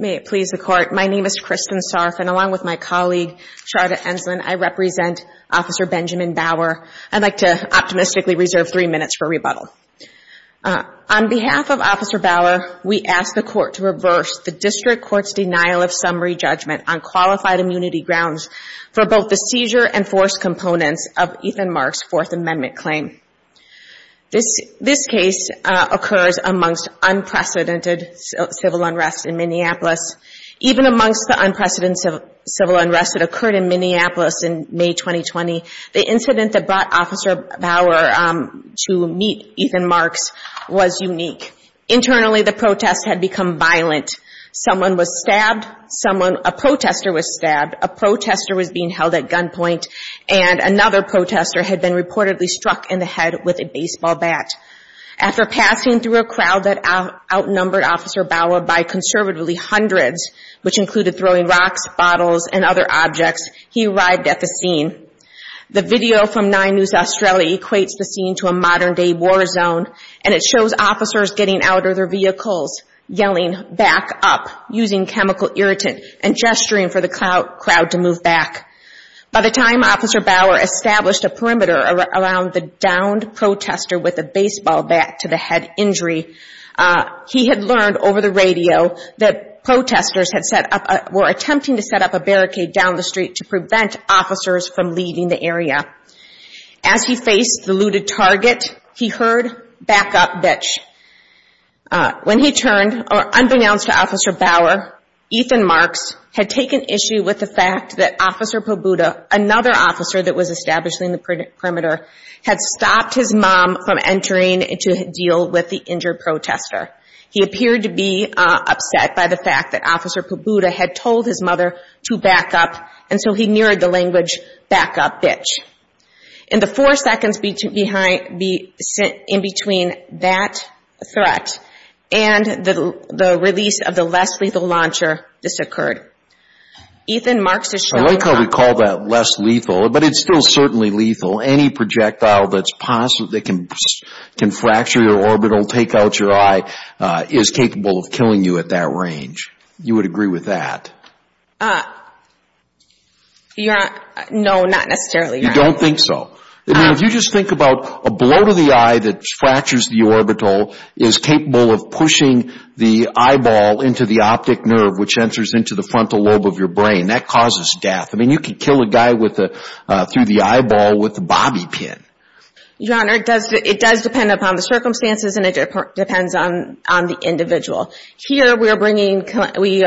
May it please the Court, my name is Kristen Sarf and along with my colleague Charda Enslin, I represent Officer Benjamin Bauer. I'd like to optimistically reserve three minutes for rebuttal. On behalf of Officer Bauer, we ask the Court to reverse the District Court's denial of summary judgment on qualified immunity grounds for both the seizure and forced components of Ethan Marks' Fourth Amendment claim. This case occurs amongst unprecedented civil unrest in Minneapolis. Even amongst the unprecedented civil unrest that occurred in Minneapolis in May 2020, the incident that brought Officer Bauer to meet Ethan Marks was unique. Internally, the protests had become violent. Someone was stabbed, a protester was stabbed, a protester was being held at gunpoint, and another protester had been reportedly struck in the head with a baseball bat. After passing through a crowd that outnumbered Officer Bauer by conservatively hundreds, which included throwing rocks, bottles, and other objects, he arrived at the scene. The video from 9 News Australia equates the scene to a modern-day war zone, and it shows officers getting out of their vehicles, yelling, back up, using chemical irritant, and gesturing for the crowd to move back. By the time Officer Bauer established a perimeter around the downed protester with a baseball bat to the head injury, he had learned over the radio that protesters were attempting to set up a barricade down the street to prevent officers from leaving the area. As he faced the looted target, he heard, back up, bitch. When he turned, unbeknownst to Officer Bauer, Ethan Marks had taken issue with the fact that Officer Pabuda, another officer that was establishing the perimeter, had stopped his mom from entering to deal with the injured protester. He appeared to be upset by the fact that Officer Pabuda had told his mother to back up, and so he mirrored the language, back up, bitch. In the four seconds in between that threat and the release of the less lethal launcher, this occurred. Ethan Marks is shown... I like how we call that less lethal, but it's still certainly lethal. Any projectile that can fracture your orbital, take out your eye, is capable of killing you at that range. You would agree with that? No, not necessarily, Your Honor. You don't think so? I mean, if you just think about a blow to the eye that fractures the orbital is capable of pushing the eyeball into the optic nerve, which enters into the frontal lobe of your brain, that causes death. I mean, you could kill a guy through the eyeball with a bobby pin. Your Honor, it does depend upon the circumstances, and it depends on the individual. Here, we are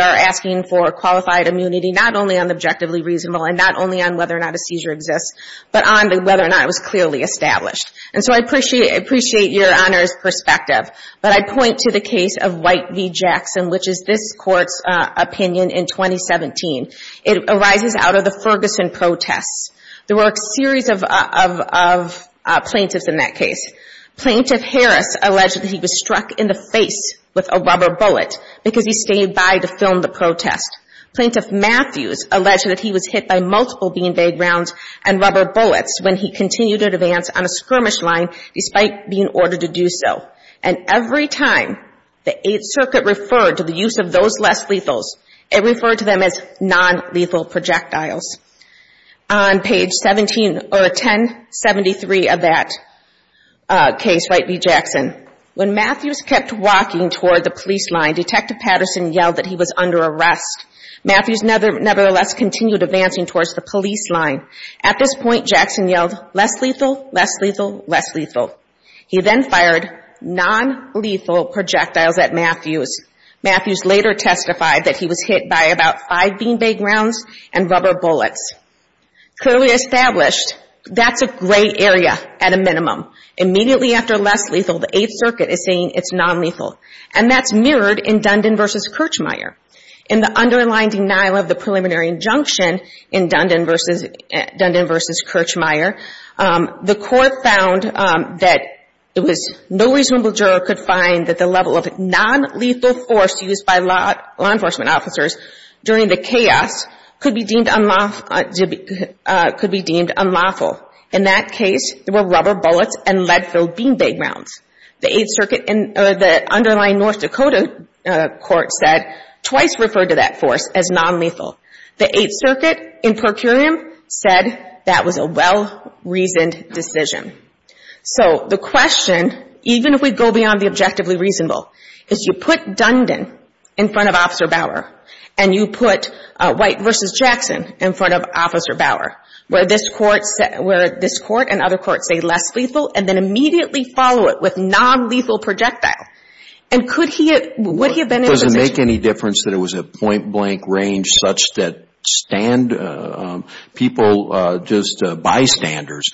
asking for qualified immunity not only on the objectively reasonable and not only on whether or not a seizure exists, but on whether or not it was clearly established. And so I appreciate Your Honor's perspective, but I point to the case of White v. Jackson, which is this Court's opinion in 2017. It arises out of the Ferguson protests. There were a series of plaintiffs in that case. Plaintiff Harris alleged that he was struck in the face with a rubber bullet because he stayed by to film the protest. Plaintiff Matthews alleged that he was hit by multiple beanbag rounds and rubber bullets when he continued in advance on a skirmish line despite being ordered to do so. And every time the Eighth Circuit referred to the use of those less lethals, it referred to them as nonlethal projectiles. On page 1073 of that case, White v. Jackson, when Matthews kept walking toward the police line, Detective Patterson yelled that he was under arrest. Matthews nevertheless continued advancing towards the police line. At this point, Jackson yelled, less lethal, less lethal, less lethal. He then fired nonlethal projectiles at Matthews. Matthews later testified that he was hit by about five beanbag rounds and rubber bullets. Clearly established, that's a gray area at a minimum. Immediately after less lethal, the Eighth Circuit is saying it's nonlethal. And that's mirrored in Dundon v. Kirchmeier. In the underlying denial of the preliminary injunction in Dundon v. Kirchmeier, the court found that it was no reasonable juror could find that the level of nonlethal force used by law enforcement officers during the chaos could be deemed unlawful. In that case, there were rubber bullets and lead-filled beanbag rounds. The Eighth Circuit in the underlying North Dakota court said twice referred to that force as nonlethal. The Eighth Circuit in per curiam said that was a well-reasoned decision. So the question, even if we go beyond the objectively reasonable, is you put Dundon in front of Officer Bauer, and you put White v. Jackson in front of Officer Bauer, where this court and other courts say less lethal, and then immediately follow it with nonlethal projectile. Does it make any difference that it was a point-blank range such that people, just bystanders,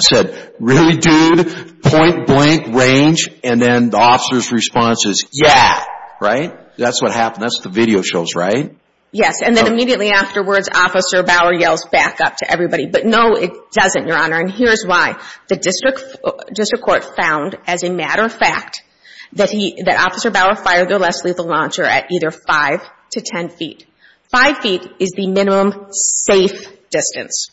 said, really, dude? Point-blank range? And then the officer's response is, yeah. Right? That's what happened. That's what the video shows, right? Yes. And then immediately afterwards, Officer Bauer yells back up to everybody. But no, it doesn't, Your Honor. And here's why. The district court found, as a matter of fact, that he, that Officer Bauer fired the less lethal launcher at either 5 to 10 feet. Five feet is the minimum safe distance.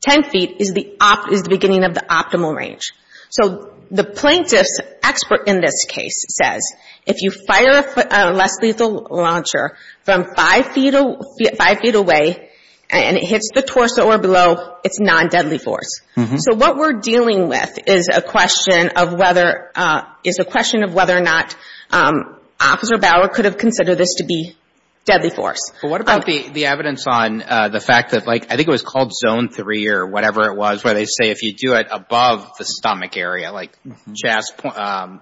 Ten feet is the beginning of the optimal range. So the plaintiff's expert in this case says, if you fire a less lethal launcher from five feet away, and it hits the torso or below, it's non-deadly force. So what we're dealing with is a question of whether, is a question of whether or not Officer Bauer could have considered this to be deadly force. What about the evidence on the fact that, like, I think it was called Zone 3 or whatever it was, where they say if you do it above the stomach area, like chest,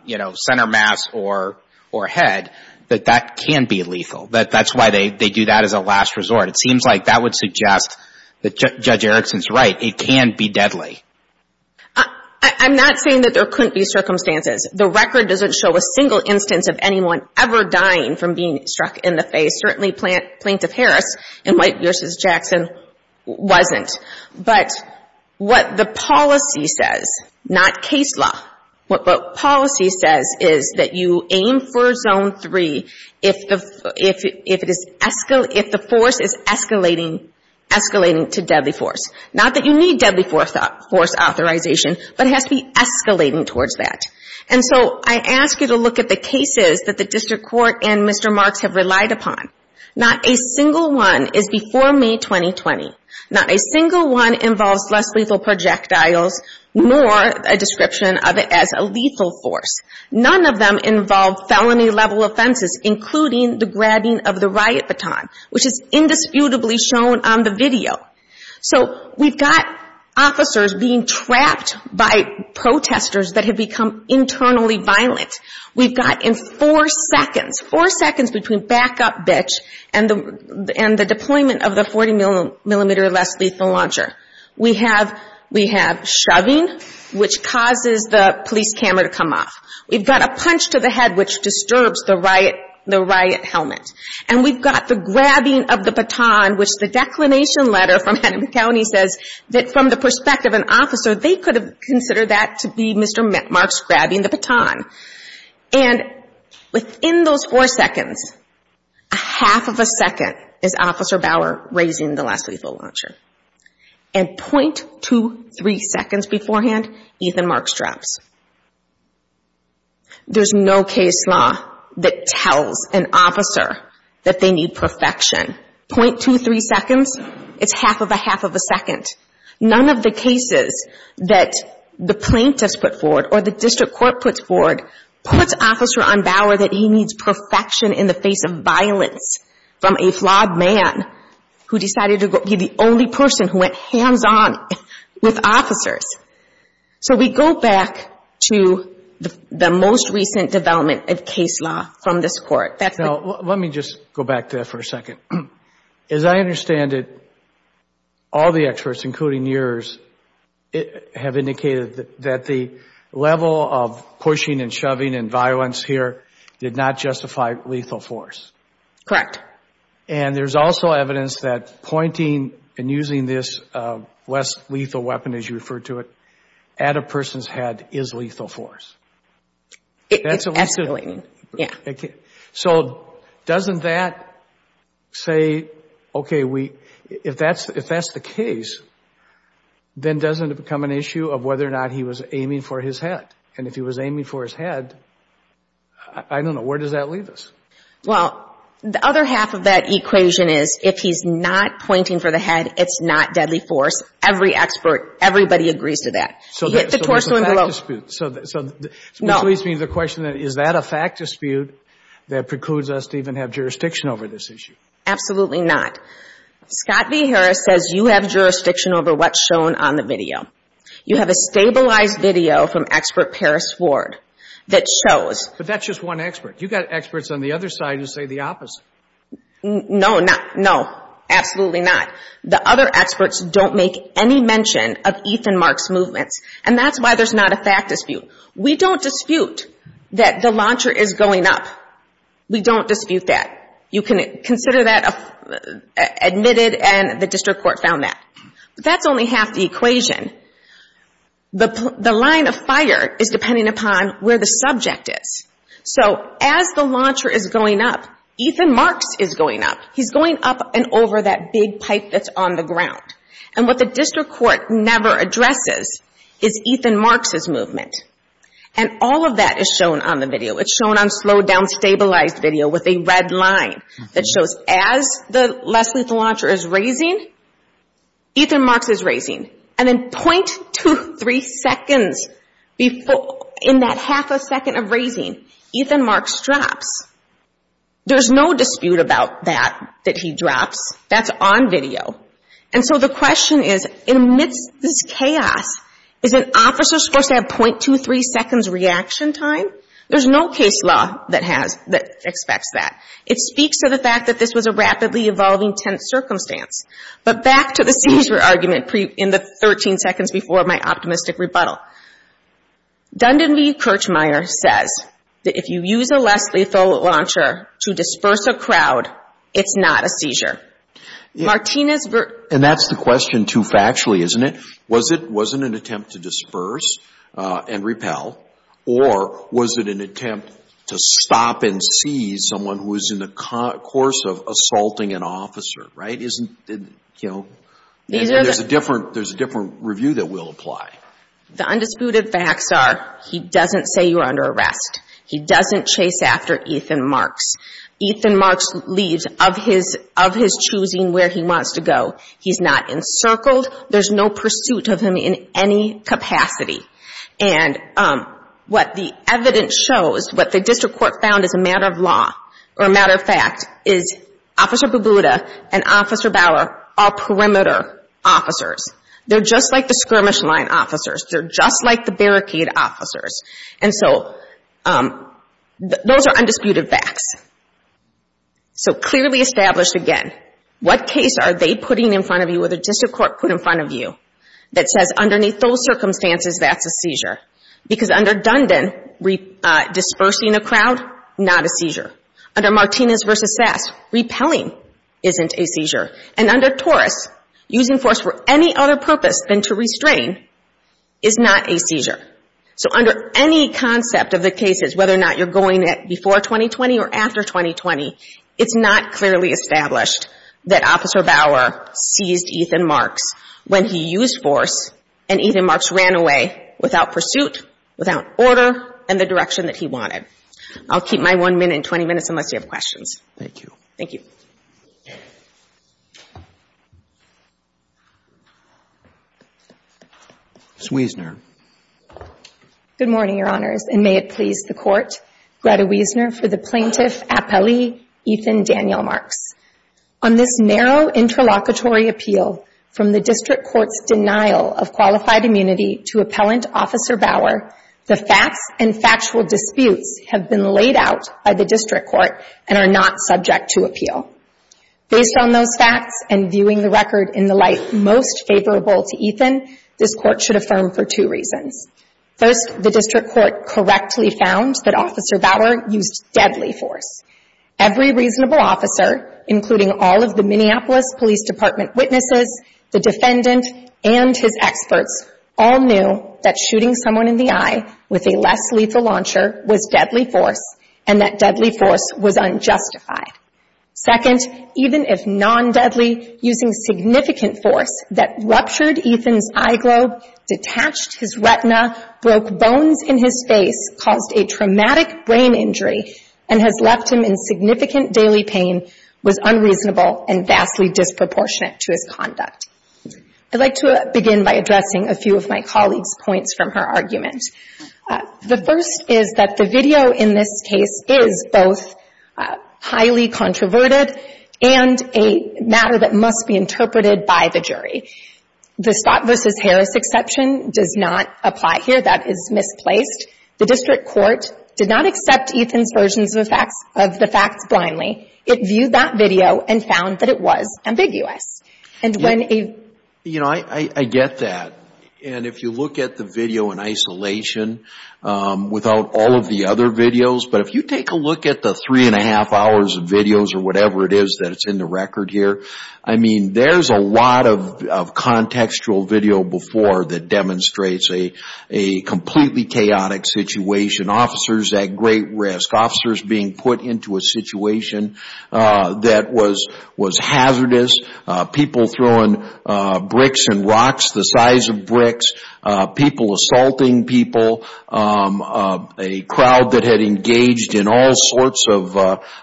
you know, center mass or head, that that can be lethal. That's why they do that as a last resort. It seems like that would suggest that Judge Erickson's right. It can be deadly. I'm not saying that there couldn't be circumstances. The record doesn't show a single instance of anyone ever dying from being struck in the face. Certainly Plaintiff Harris in White v. Jackson wasn't. But what the policy says, not case law, what policy says, is that you aim for Zone 3 if the force is escalating to deadly force. Not that you need deadly force authorization, but it has to be escalating towards that. And so I ask you to look at the cases that the District Court and Mr. Marks have relied upon. Not a single one is before May 2020. Not a single one involves less lethal projectiles, nor a description of it as a lethal force. None of them involve felony-level offenses, including the grabbing of the riot baton, which is indisputably shown on the video. So we've got officers being trapped by protesters that have become internally violent. We've got in four seconds, four seconds between backup bitch and the deployment of the 40-millimeter less lethal launcher. We have shoving, which causes the police camera to come off. We've got a punch to the head, which disturbs the riot helmet. And we've got the grabbing of the baton, which the declination letter from Hennepin County says that from the perspective of an officer, they could have considered that to be Mr. Marks grabbing the baton. And within those four seconds, a half of a second is Officer Bauer raising the less lethal launcher. And .23 seconds beforehand, Ethan Marks drops. There's no case law that tells an officer that they need perfection. .23 seconds, it's half of a half of a second. None of the cases that the plaintiffs put forward or the district court puts forward puts Officer on Bauer that he needs perfection in the face of violence from a flawed man who decided to be the only person who went hands-on with officers. So we go back to the most recent development of case law from this court. Now, let me just go back to that for a second. As I understand it, all the experts, including yours, have indicated that the level of pushing and shoving and violence here did not justify lethal force. Correct. And there's also evidence that pointing and using this less lethal weapon, as you refer to it, at a person's head is lethal force. It's escalating, yeah. So doesn't that say, okay, if that's the case, then doesn't it become an issue of whether or not he was aiming for his head? And if he was aiming for his head, I don't know, where does that leave us? Half of that equation is if he's not pointing for the head, it's not deadly force. Every expert, everybody agrees to that. So hit the torso and blow. So that leads me to the question, is that a fact dispute that precludes us to even have jurisdiction over this issue? Absolutely not. Scott V. Harris says you have jurisdiction over what's shown on the video. You have a stabilized video from expert Paris Ford that shows. But that's just one expert. You've got experts on the other side who say the opposite. No, no, absolutely not. The other experts don't make any mention of Ethan Mark's movements. And that's why there's not a fact dispute. We don't dispute that the launcher is going up. We don't dispute that. You can consider that admitted and the district court found that. But that's only half the equation. The line of fire is depending upon where the subject is. So as the launcher is going up, Ethan Mark's is going up. He's going up and over that big pipe that's on the ground. And what the district court never addresses is Ethan Mark's movement. And all of that is shown on the video. It's shown on slowed down, stabilized video with a red line that shows as the Leslie launcher is raising, Ethan Mark's is raising. And then .23 seconds in that half a second of raising, Ethan Mark's drops. There's no dispute about that, that he drops. That's on video. And so the question is, amidst this chaos, is an officer supposed to have .23 seconds reaction time? There's no case law that expects that. It speaks to the fact that this was a rapidly evolving tense circumstance. But back to the seizure argument in the 13 seconds before my optimistic rebuttal. Dundin v. Kirchmeier says that if you use a Leslie throw launcher to disperse a crowd, it's not a seizure. And that's the question too factually, isn't it? Was it an attempt to disperse and repel? Or was it an attempt to stop and seize someone who was in the course of assaulting an officer? There's a different review that will apply. The undisputed facts are he doesn't say you're under arrest. He doesn't chase after Ethan Marks. Ethan Marks leaves of his choosing where he wants to go. He's not encircled. There's no pursuit of him in any capacity. And what the evidence shows, what the district court found as a matter of law, or a matter of fact, is Officer Babuda and Officer Bauer are perimeter officers. They're just like the skirmish line officers. They're just like the barricade officers. And so those are undisputed facts. So clearly established again, what case are they putting in front of you or the district court put in front of you that says underneath those circumstances that's a seizure? Because under Dundon, dispersing a crowd, not a seizure. Under Martinez v. Sass, repelling isn't a seizure. And under Torres, using force for any other purpose than to restrain is not a seizure. So under any concept of the cases, whether or not you're going before 2020 or after 2020, it's not clearly established that Officer Bauer seized Ethan Marks when he used force and Ethan Marks ran away without pursuit, without order, and the direction that he wanted. I'll keep my one minute and 20 minutes unless you have questions. Thank you. Ms. Wiesner. Good morning, Your Honors, and may it please the Court. Greta Wiesner for the plaintiff appellee, Ethan Daniel Marks. On this narrow interlocutory appeal from the district court's denial of qualified immunity to appellant Officer Bauer, the facts and factual disputes have been laid out by the district court and are not subject to appeal. Based on those facts and viewing the record in the light most favorable to Ethan, this Court should affirm for two reasons. First, the district court correctly found that Officer Bauer used deadly force. Every reasonable officer, including all of the Minneapolis Police Department witnesses, the defendant, and his experts all knew that shooting someone in the eye with a less lethal launcher was deadly force, and that deadly force was unjustified. Second, even if non-deadly, using significant force that ruptured Ethan's eye globe, detached his retina, broke bones in his face, caused a traumatic brain injury, and has left him in significant daily pain was unreasonable and vastly disproportionate to his conduct. I'd like to begin by addressing a few of my colleague's points from her argument. The first is that the video in this case is both highly controverted and a matter that must be interpreted by the jury. The Scott v. Harris exception does not apply here. That is misplaced. The district court did not accept Ethan's versions of the facts blindly. It viewed that video and found that it was ambiguous. I get that, and if you look at the video in isolation without all of the other videos, but if you take a look at the three and a half hours of videos or whatever it is that's in the record here, I mean, there's a lot of contextual video before that demonstrates a completely chaotic situation. Officers at great risk, officers being put into a situation that was hazardous, people throwing bricks and rocks the size of bricks, people assaulting people, a crowd that had engaged in all sorts of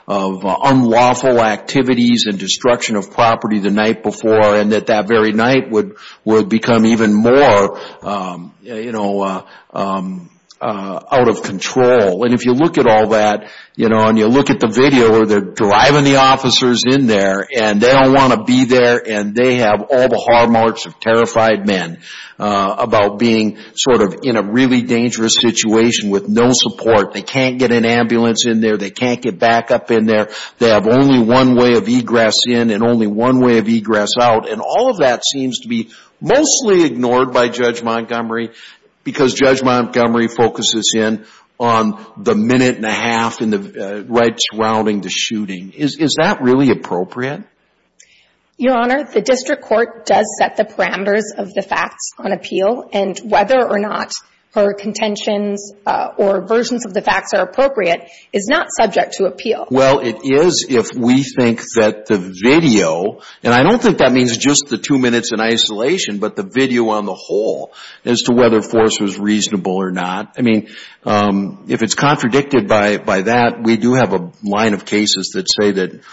unlawful activities and destruction of property the night before, and that that very night would become even more out of control. And if you look at all that and you look at the video where they're driving the officers in there and they don't want to be there and they have all the hard marks of terrified men about being sort of in a really dangerous situation with no support, they can't get an ambulance in there, they can't get backup in there, they have only one way of egress in and only one way of egress out, and all of that seems to be mostly ignored by Judge Montgomery, because Judge Montgomery focuses in on the minute and a half right surrounding the shooting. Is that really appropriate? Your Honor, the district court does set the parameters of the facts on appeal, and whether or not her contentions or versions of the facts are appropriate is not subject to appeal. Well, it is if we think that the video, and I don't think that means just the two minutes in isolation, but the video on the whole as to whether force was reasonable or not. I mean, if it's contradicted by that, we do have a line of cases that say that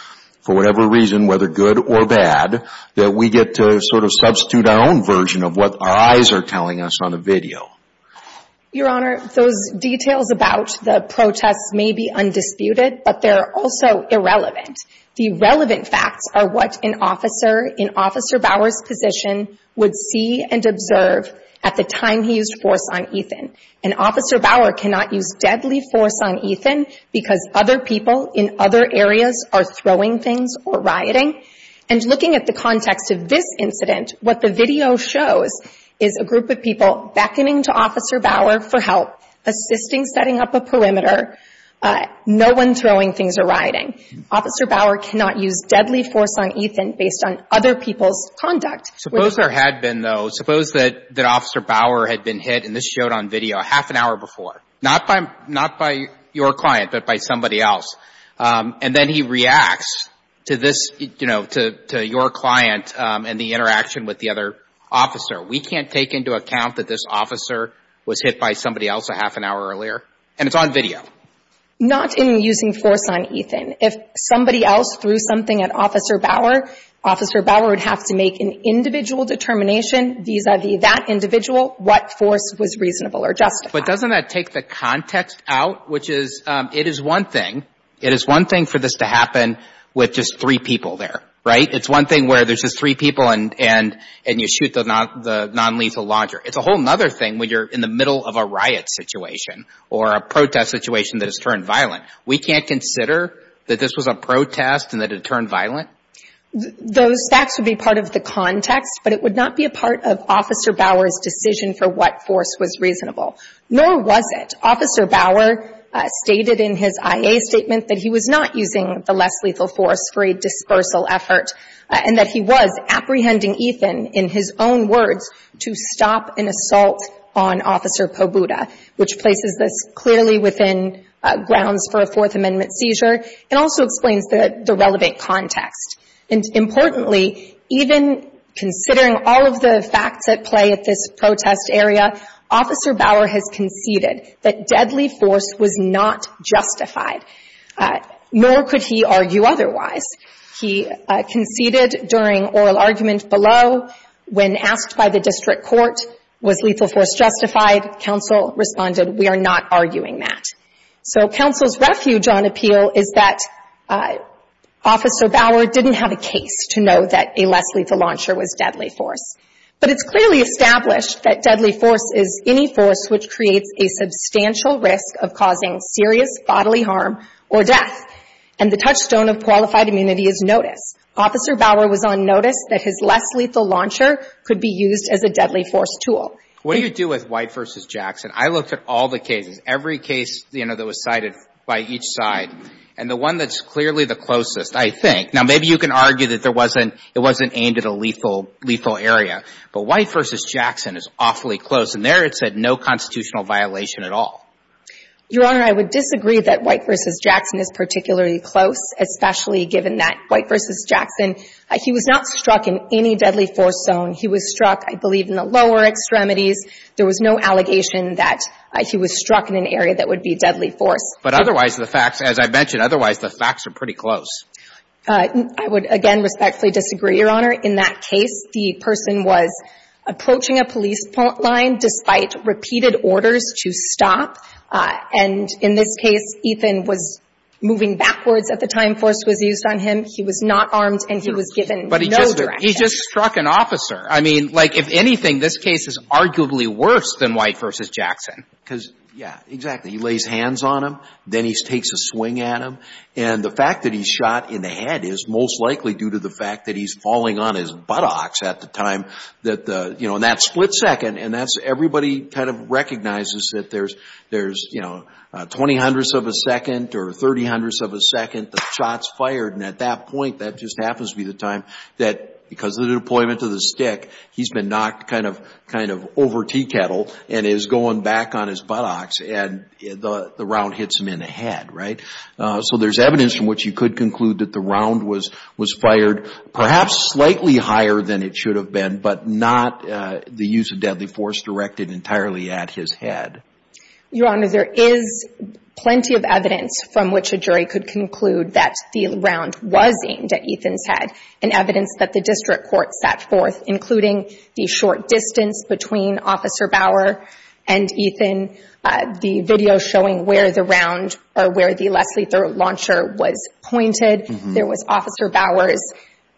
for whatever reason, whether good or bad, that we get to sort of substitute our own version of what our eyes are telling us on the video. Your Honor, those details about the protests may be undisputed, but they're also irrelevant. The relevant facts are what an officer in Officer Bauer's position would see and observe at the time he used force on Ethan. And Officer Bauer cannot use deadly force on Ethan because other people in other areas are throwing things or rioting. And looking at the context of this incident, what the video shows is a group of people beckoning to Officer Bauer for help, assisting, setting up a perimeter. No one throwing things or rioting. Officer Bauer cannot use deadly force on Ethan based on other people's conduct. Suppose there had been, though. Suppose that Officer Bauer had been hit, and this showed on video half an hour before. Not by your client, but by somebody else. And then he reacts to this, you know, to your client and the interaction with the other officer. We can't take into account that this officer was hit by somebody else a half an hour earlier. And it's on video. Not in using force on Ethan. If somebody else threw something at Officer Bauer, Officer Bauer would have to make an individual determination vis-a-vis that individual what force was reasonable or justified. But doesn't that take the context out? Which is, it is one thing. It is one thing for this to happen with just three people there. Right? It's one thing where there's just three people and you shoot the nonlethal launcher. It's a whole other thing when you're in the middle of a riot situation or a protest situation that has turned violent. We can't consider that this was a protest and that it turned violent? Those facts would be part of the context, but it would not be a part of Officer Bauer's decision for what force was reasonable. Nor was it. Officer Bauer stated in his IA statement that he was not using the less lethal force for a dispersal effort, and that he was apprehending Ethan, in his own words, to stop an assault on Officer Pobuda, which places this clearly within grounds for a Fourth Amendment seizure and also explains the relevant context. And importantly, even considering all of the facts at play at this protest area, Officer Bauer has conceded that deadly force was not justified, nor could he argue otherwise. He conceded during oral argument below, when asked by the district court, was lethal force justified? Council responded, we are not arguing that. So Council's refuge on appeal is that Officer Bauer didn't have a case to know that a less lethal launcher was deadly force. But it's clearly established that deadly force is any force which creates a substantial risk of causing serious bodily harm or death, and the touchstone of qualified immunity is notice. Officer Bauer was on notice that his less lethal launcher could be used as a deadly force tool. What do you do with White v. Jackson? I looked at all the cases, every case, you know, that was cited by each side, and the one that's clearly the closest, I think. Now, maybe you can argue that there wasn't – it wasn't aimed at a lethal – lethal area, but White v. Jackson is awfully close, and there it said no constitutional violation at all. Your Honor, I would disagree that White v. Jackson is particularly close, especially given that White v. Jackson, he was not struck in any deadly force zone. He was struck, I believe, in the lower extremities. There was no allegation that he was struck in an area that would be deadly force. But otherwise, the facts – as I've mentioned, otherwise, the facts are pretty close. I would, again, respectfully disagree, Your Honor. In that case, the person was shot, and in this case, Ethan was moving backwards at the time force was used on him. He was not armed, and he was given no direction. But he just – he just struck an officer. I mean, like, if anything, this case is arguably worse than White v. Jackson. Because, yeah, exactly. He lays hands on him, then he takes a swing at him, and the fact that he's shot in the head is most likely due to the fact that he's falling on his buttocks at the time that the – you know, in that split second, and that's – everybody kind of recognizes that there's, you know, 20 hundredths of a second or 30 hundredths of a second, the shot's fired. And at that point, that just happens to be the time that, because of the deployment of the stick, he's been knocked kind of over teakettle and is going back on his buttocks, and the round hits him in the head, right? So there's evidence from which you could conclude that the round was fired perhaps slightly higher than it should have been, but not the use of deadly force directed entirely at his head. Your Honor, there is plenty of evidence from which a jury could conclude that the round was aimed at Ethan's head, and evidence that the district court set forth, including the short distance between Officer Bauer and Ethan, the video showing where the round – or where the Leslie-throw launcher was pointed. There was Officer Bauer's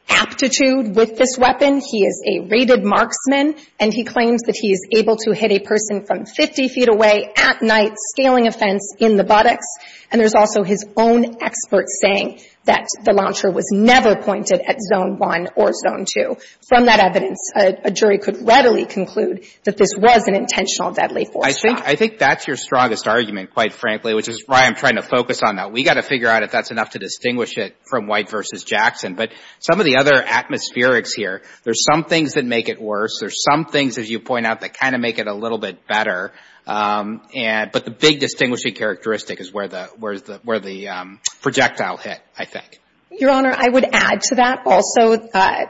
aptitude with this weapon. He is a rated marksman, and he claims that he is able to hit a person from 50 feet away at night, scaling a fence in the buttocks. And there's also his own experts saying that the launcher was never pointed at Zone 1 or Zone 2. From that evidence, a jury could readily conclude that this was an intentional deadly force shot. I think that's your strongest argument, quite frankly, which is why I'm trying to focus on that. We've got to figure out if that's enough to distinguish it from White versus Jackson. But some of the other atmospherics here, there's some things that make it worse. There's some things, as you point out, that kind of make it a little bit better. But the big distinguishing characteristic is where the projectile hit, I think. Your Honor, I would add to that also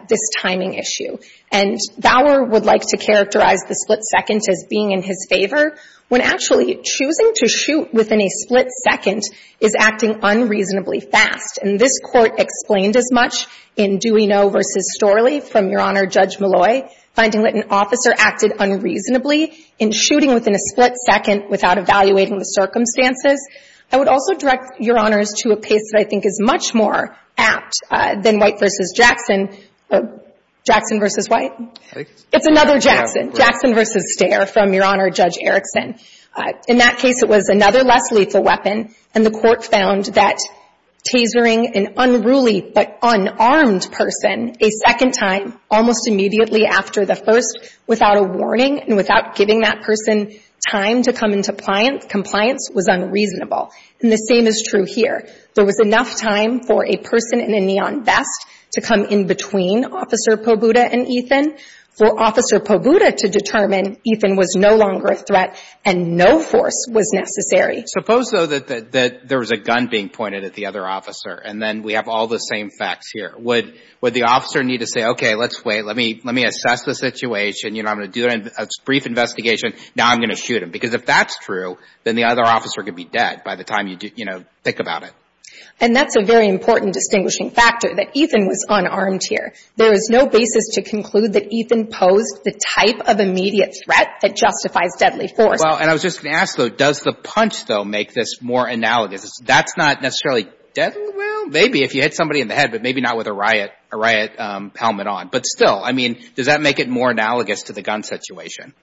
this timing issue. And Bauer would like to characterize the split second as being in his favor, when actually choosing to shoot within a split second is acting unreasonably fast. And this Court explained as much in Dewey Noe v. Storley from Your Honor Judge Molloy, finding that an officer acted unreasonably in shooting within a split second without evaluating the circumstances. I would also direct Your Honors to a case that I think is much more apt than White versus Jackson. Jackson versus White? It's another Jackson. Jackson versus Stare from Your Honor Judge Erickson. In that case, it was another less lethal weapon, and the Court found that tasering an unruly but unarmed person a second time almost immediately after the first without a warning and without giving that person time to come into compliance was unreasonable. And the same is true here. There was enough time for a person in a neon vest to come in between Officer Pobuda and Ethan. For Officer Pobuda to determine Ethan was no longer a threat and no force was necessary. Suppose, though, that there was a gun being pointed at the other officer, and then we have all the same facts here. Would the officer need to say, Okay, let's wait. Let me assess the situation. I'm going to do a brief investigation. Now I'm going to shoot him. Because if that's true, then the other officer could be dead by the time you think about it. And that's a very important distinguishing factor, that Ethan was unarmed here. There is no basis to conclude that Ethan posed the type of immediate threat that justifies deadly force. Well, and I was just going to ask, though, does the punch, though, make this more analogous? That's not necessarily deadly? Well, maybe if you hit somebody in the head, but maybe not with a riot helmet on. But still, I mean, does that make it more analogous to the gun situation?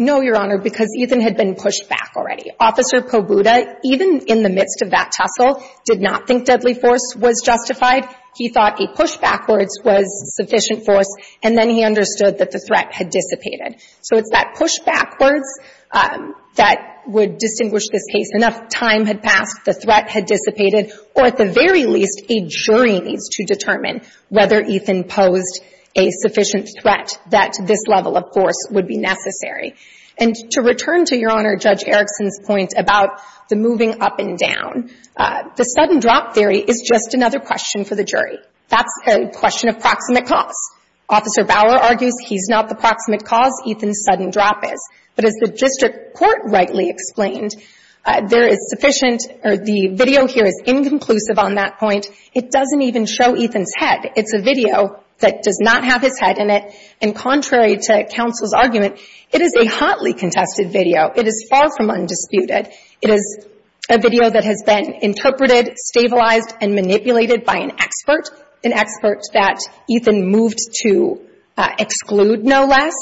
No, Your Honor, because Ethan had been pushed back already. Officer Pobuda, even in the midst of that tussle, did not think deadly force was justified. He thought a push backwards was sufficient force. And then he understood that the threat had dissipated. So it's that push backwards that would distinguish this case. Enough time had passed. The threat had dissipated. Or at the very least, a jury needs to determine whether Ethan posed a sufficient threat that this level of force would be necessary. And to return to Your Honor Judge Erickson's point about the moving up and down, the sudden drop theory is just another question for the jury. That's a question of proximate cause. Officer Bower argues he's not the proximate cause. Ethan's sudden drop is. But as the district court rightly explained, there is sufficient or the video here is inconclusive on that point. It doesn't even show Ethan's head. It's a video that does not have his head in it. And contrary to counsel's argument, it is a hotly contested video. It is far from undisputed. It is a video that has been interpreted, stabilized, and manipulated by an expert, an expert that Ethan moved to exclude no less.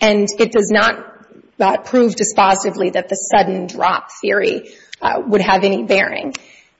And it does not prove dispositively that the sudden drop theory would have any bearing.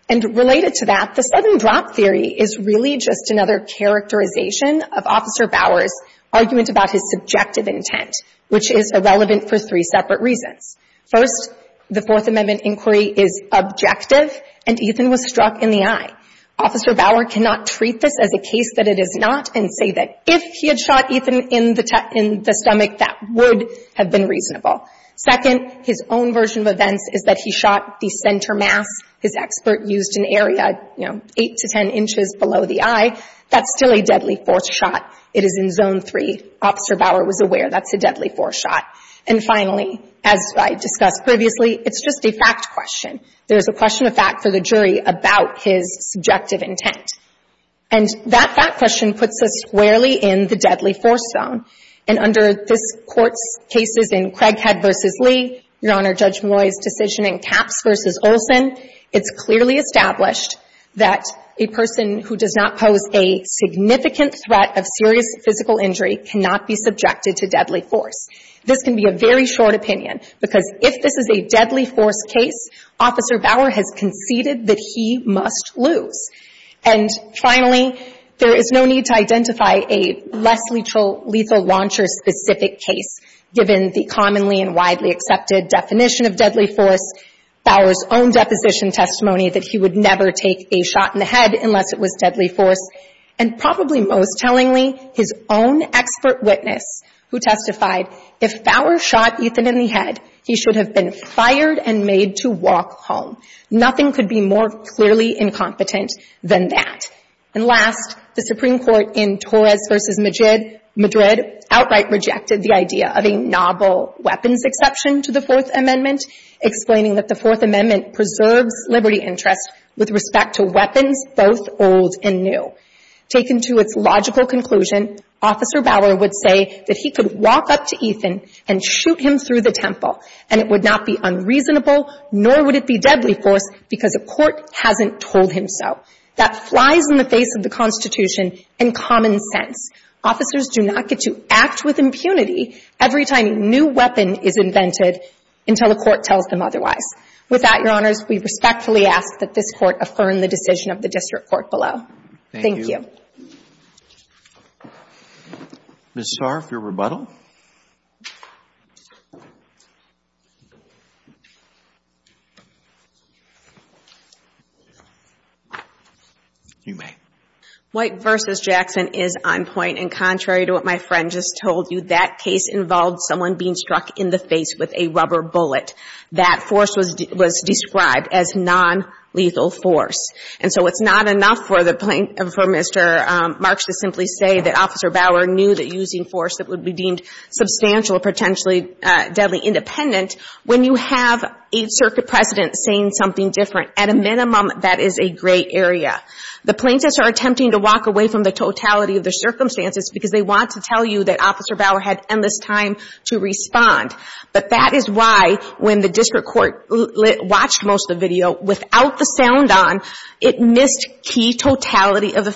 And related to that, the sudden drop theory is really just another characterization of Officer Bower's argument about his subjective intent, which is irrelevant for three separate reasons. First, the Fourth Amendment inquiry is objective, and Ethan was struck in the eye. Officer Bower cannot treat this as a case that it is not and say that if he had shot Ethan in the stomach, that would have been reasonable. Second, his own version of events is that he shot the center mass. His expert used an area, you know, 8 to 10 inches below the eye. That's still a deadly force shot. It is in Zone 3. Officer Bower was aware that's a deadly force shot. And finally, as I discussed previously, it's just a fact question. There's a question of fact for the jury about his subjective intent. And that fact question puts us squarely in the deadly force zone. And under this Court's cases in Craighead v. Lee, Your Honor, Judge Malloy's decision in Capps v. Olson, it's clearly established that a person who does not pose a significant threat of serious physical injury cannot be subjected to deadly force. This can be a very short opinion because if this is a deadly force case, Officer Bower has conceded that he must lose. And finally, there is no need to identify a less lethal launcher-specific case, given the commonly and widely accepted definition of deadly force, Bower's own deposition testimony that he would never take a shot in the head unless it was deadly force, and probably most tellingly, his own expert witness who testified, if Bower shot Ethan in the head, he should have been fired and made to walk home. Nothing could be more clearly incompetent than that. And last, the Supreme Court in Torres v. Madrid outright rejected the idea of a novel weapons exception to the Fourth Amendment, explaining that the Fourth Amendment preserves liberty interests with respect to weapons both old and new. Taken to its logical conclusion, Officer Bower would say that he could walk up to Ethan and shoot him through the temple, and it would not be unreasonable, nor would it be deadly force, because a court hasn't told him so. That flies in the face of the Constitution and common sense. Officers do not get to act with impunity every time a new weapon is invented until a court tells them otherwise. With that, Your Honors, we respectfully ask that this Court affirm the decision of the District Court below. Thank you. Thank you. Ms. Saar, for your rebuttal. You may. White v. Jackson is on point, and contrary to what my friend just told you, that case involved someone being struck in the face with a rubber bullet. That force was described as nonlethal force. And so it's not enough for Mr. Marks to simply say that Officer Bower knew that using force that would be deemed substantial, potentially deadly, independent, when you have a Circuit President saying something different. At a minimum, that is a gray area. The plaintiffs are attempting to walk away from the totality of their circumstances because they want to tell you that Officer Bower had endless time to respond. But that is why, when the District Court watched most of the video, without the sound on, it missed key totality of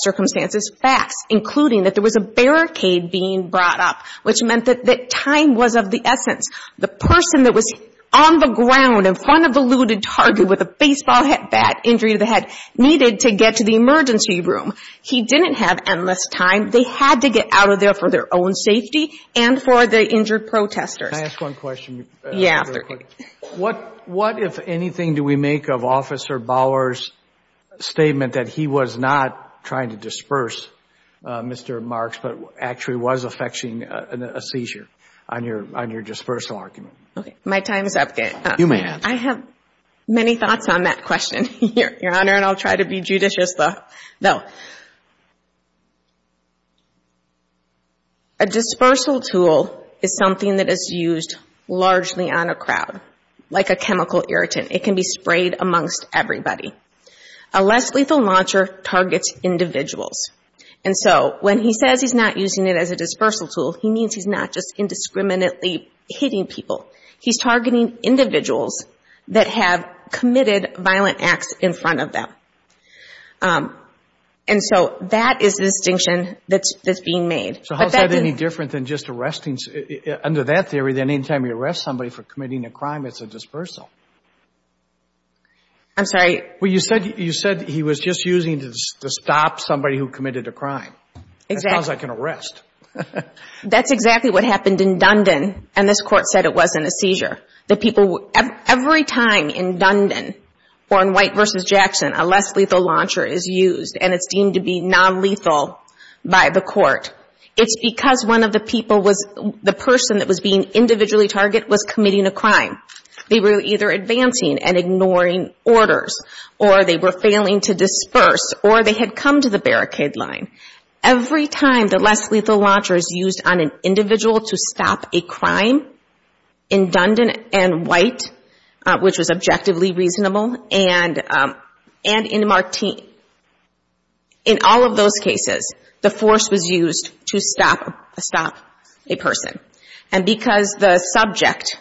circumstances, facts, including that there was a barricade being brought up, which meant that time was of the essence. The person that was on the ground in front of the looted target with a baseball bat, injury to the head, needed to get to the emergency room. He didn't have endless time. They had to get out of there for their own safety and for the injured protesters. Can I ask one question? Yeah. What, if anything, do we make of Officer Bower's statement that he was not trying to disperse Mr. Marks, but actually was effecting a seizure on your dispersal argument? My time is up. You may ask. I have many thoughts on that question, Your Honor, and I'll try to be judicious, though. A dispersal tool is something that is used largely on a crowd, like a chemical irritant. It can be sprayed amongst everybody. A less lethal launcher targets individuals. And so when he says he's not using it as a dispersal tool, he means he's not just indiscriminately hitting people. He's targeting individuals that have committed violent acts in front of them. And so that is the distinction that's being made. So how is that any different than just arresting? Under that theory, any time you arrest somebody for committing a crime, it's a dispersal. I'm sorry? Well, you said he was just using it to stop somebody who committed a crime. Exactly. That sounds like an arrest. That's exactly what happened in Dundon, and this Court said it wasn't a seizure. Every time in Dundon or in White v. Jackson, a less lethal launcher is used, and it's deemed to be nonlethal by the Court. It's because one of the people was the person that was being individually targeted was committing a crime. They were either advancing and ignoring orders, or they were failing to disperse, or they had come to the barricade line. Every time the less lethal launcher is used on an individual to stop a crime in Dundon and White, which was objectively reasonable, and in Martin, in all of those cases, the force was used to stop a person. And because the subject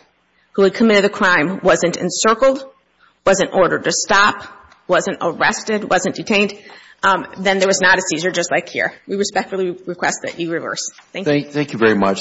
who had committed the crime wasn't encircled, wasn't ordered to stop, wasn't arrested, wasn't detained, then there was not a seizure just like here. We respectfully request that you reverse. Thank you. Thank you very much.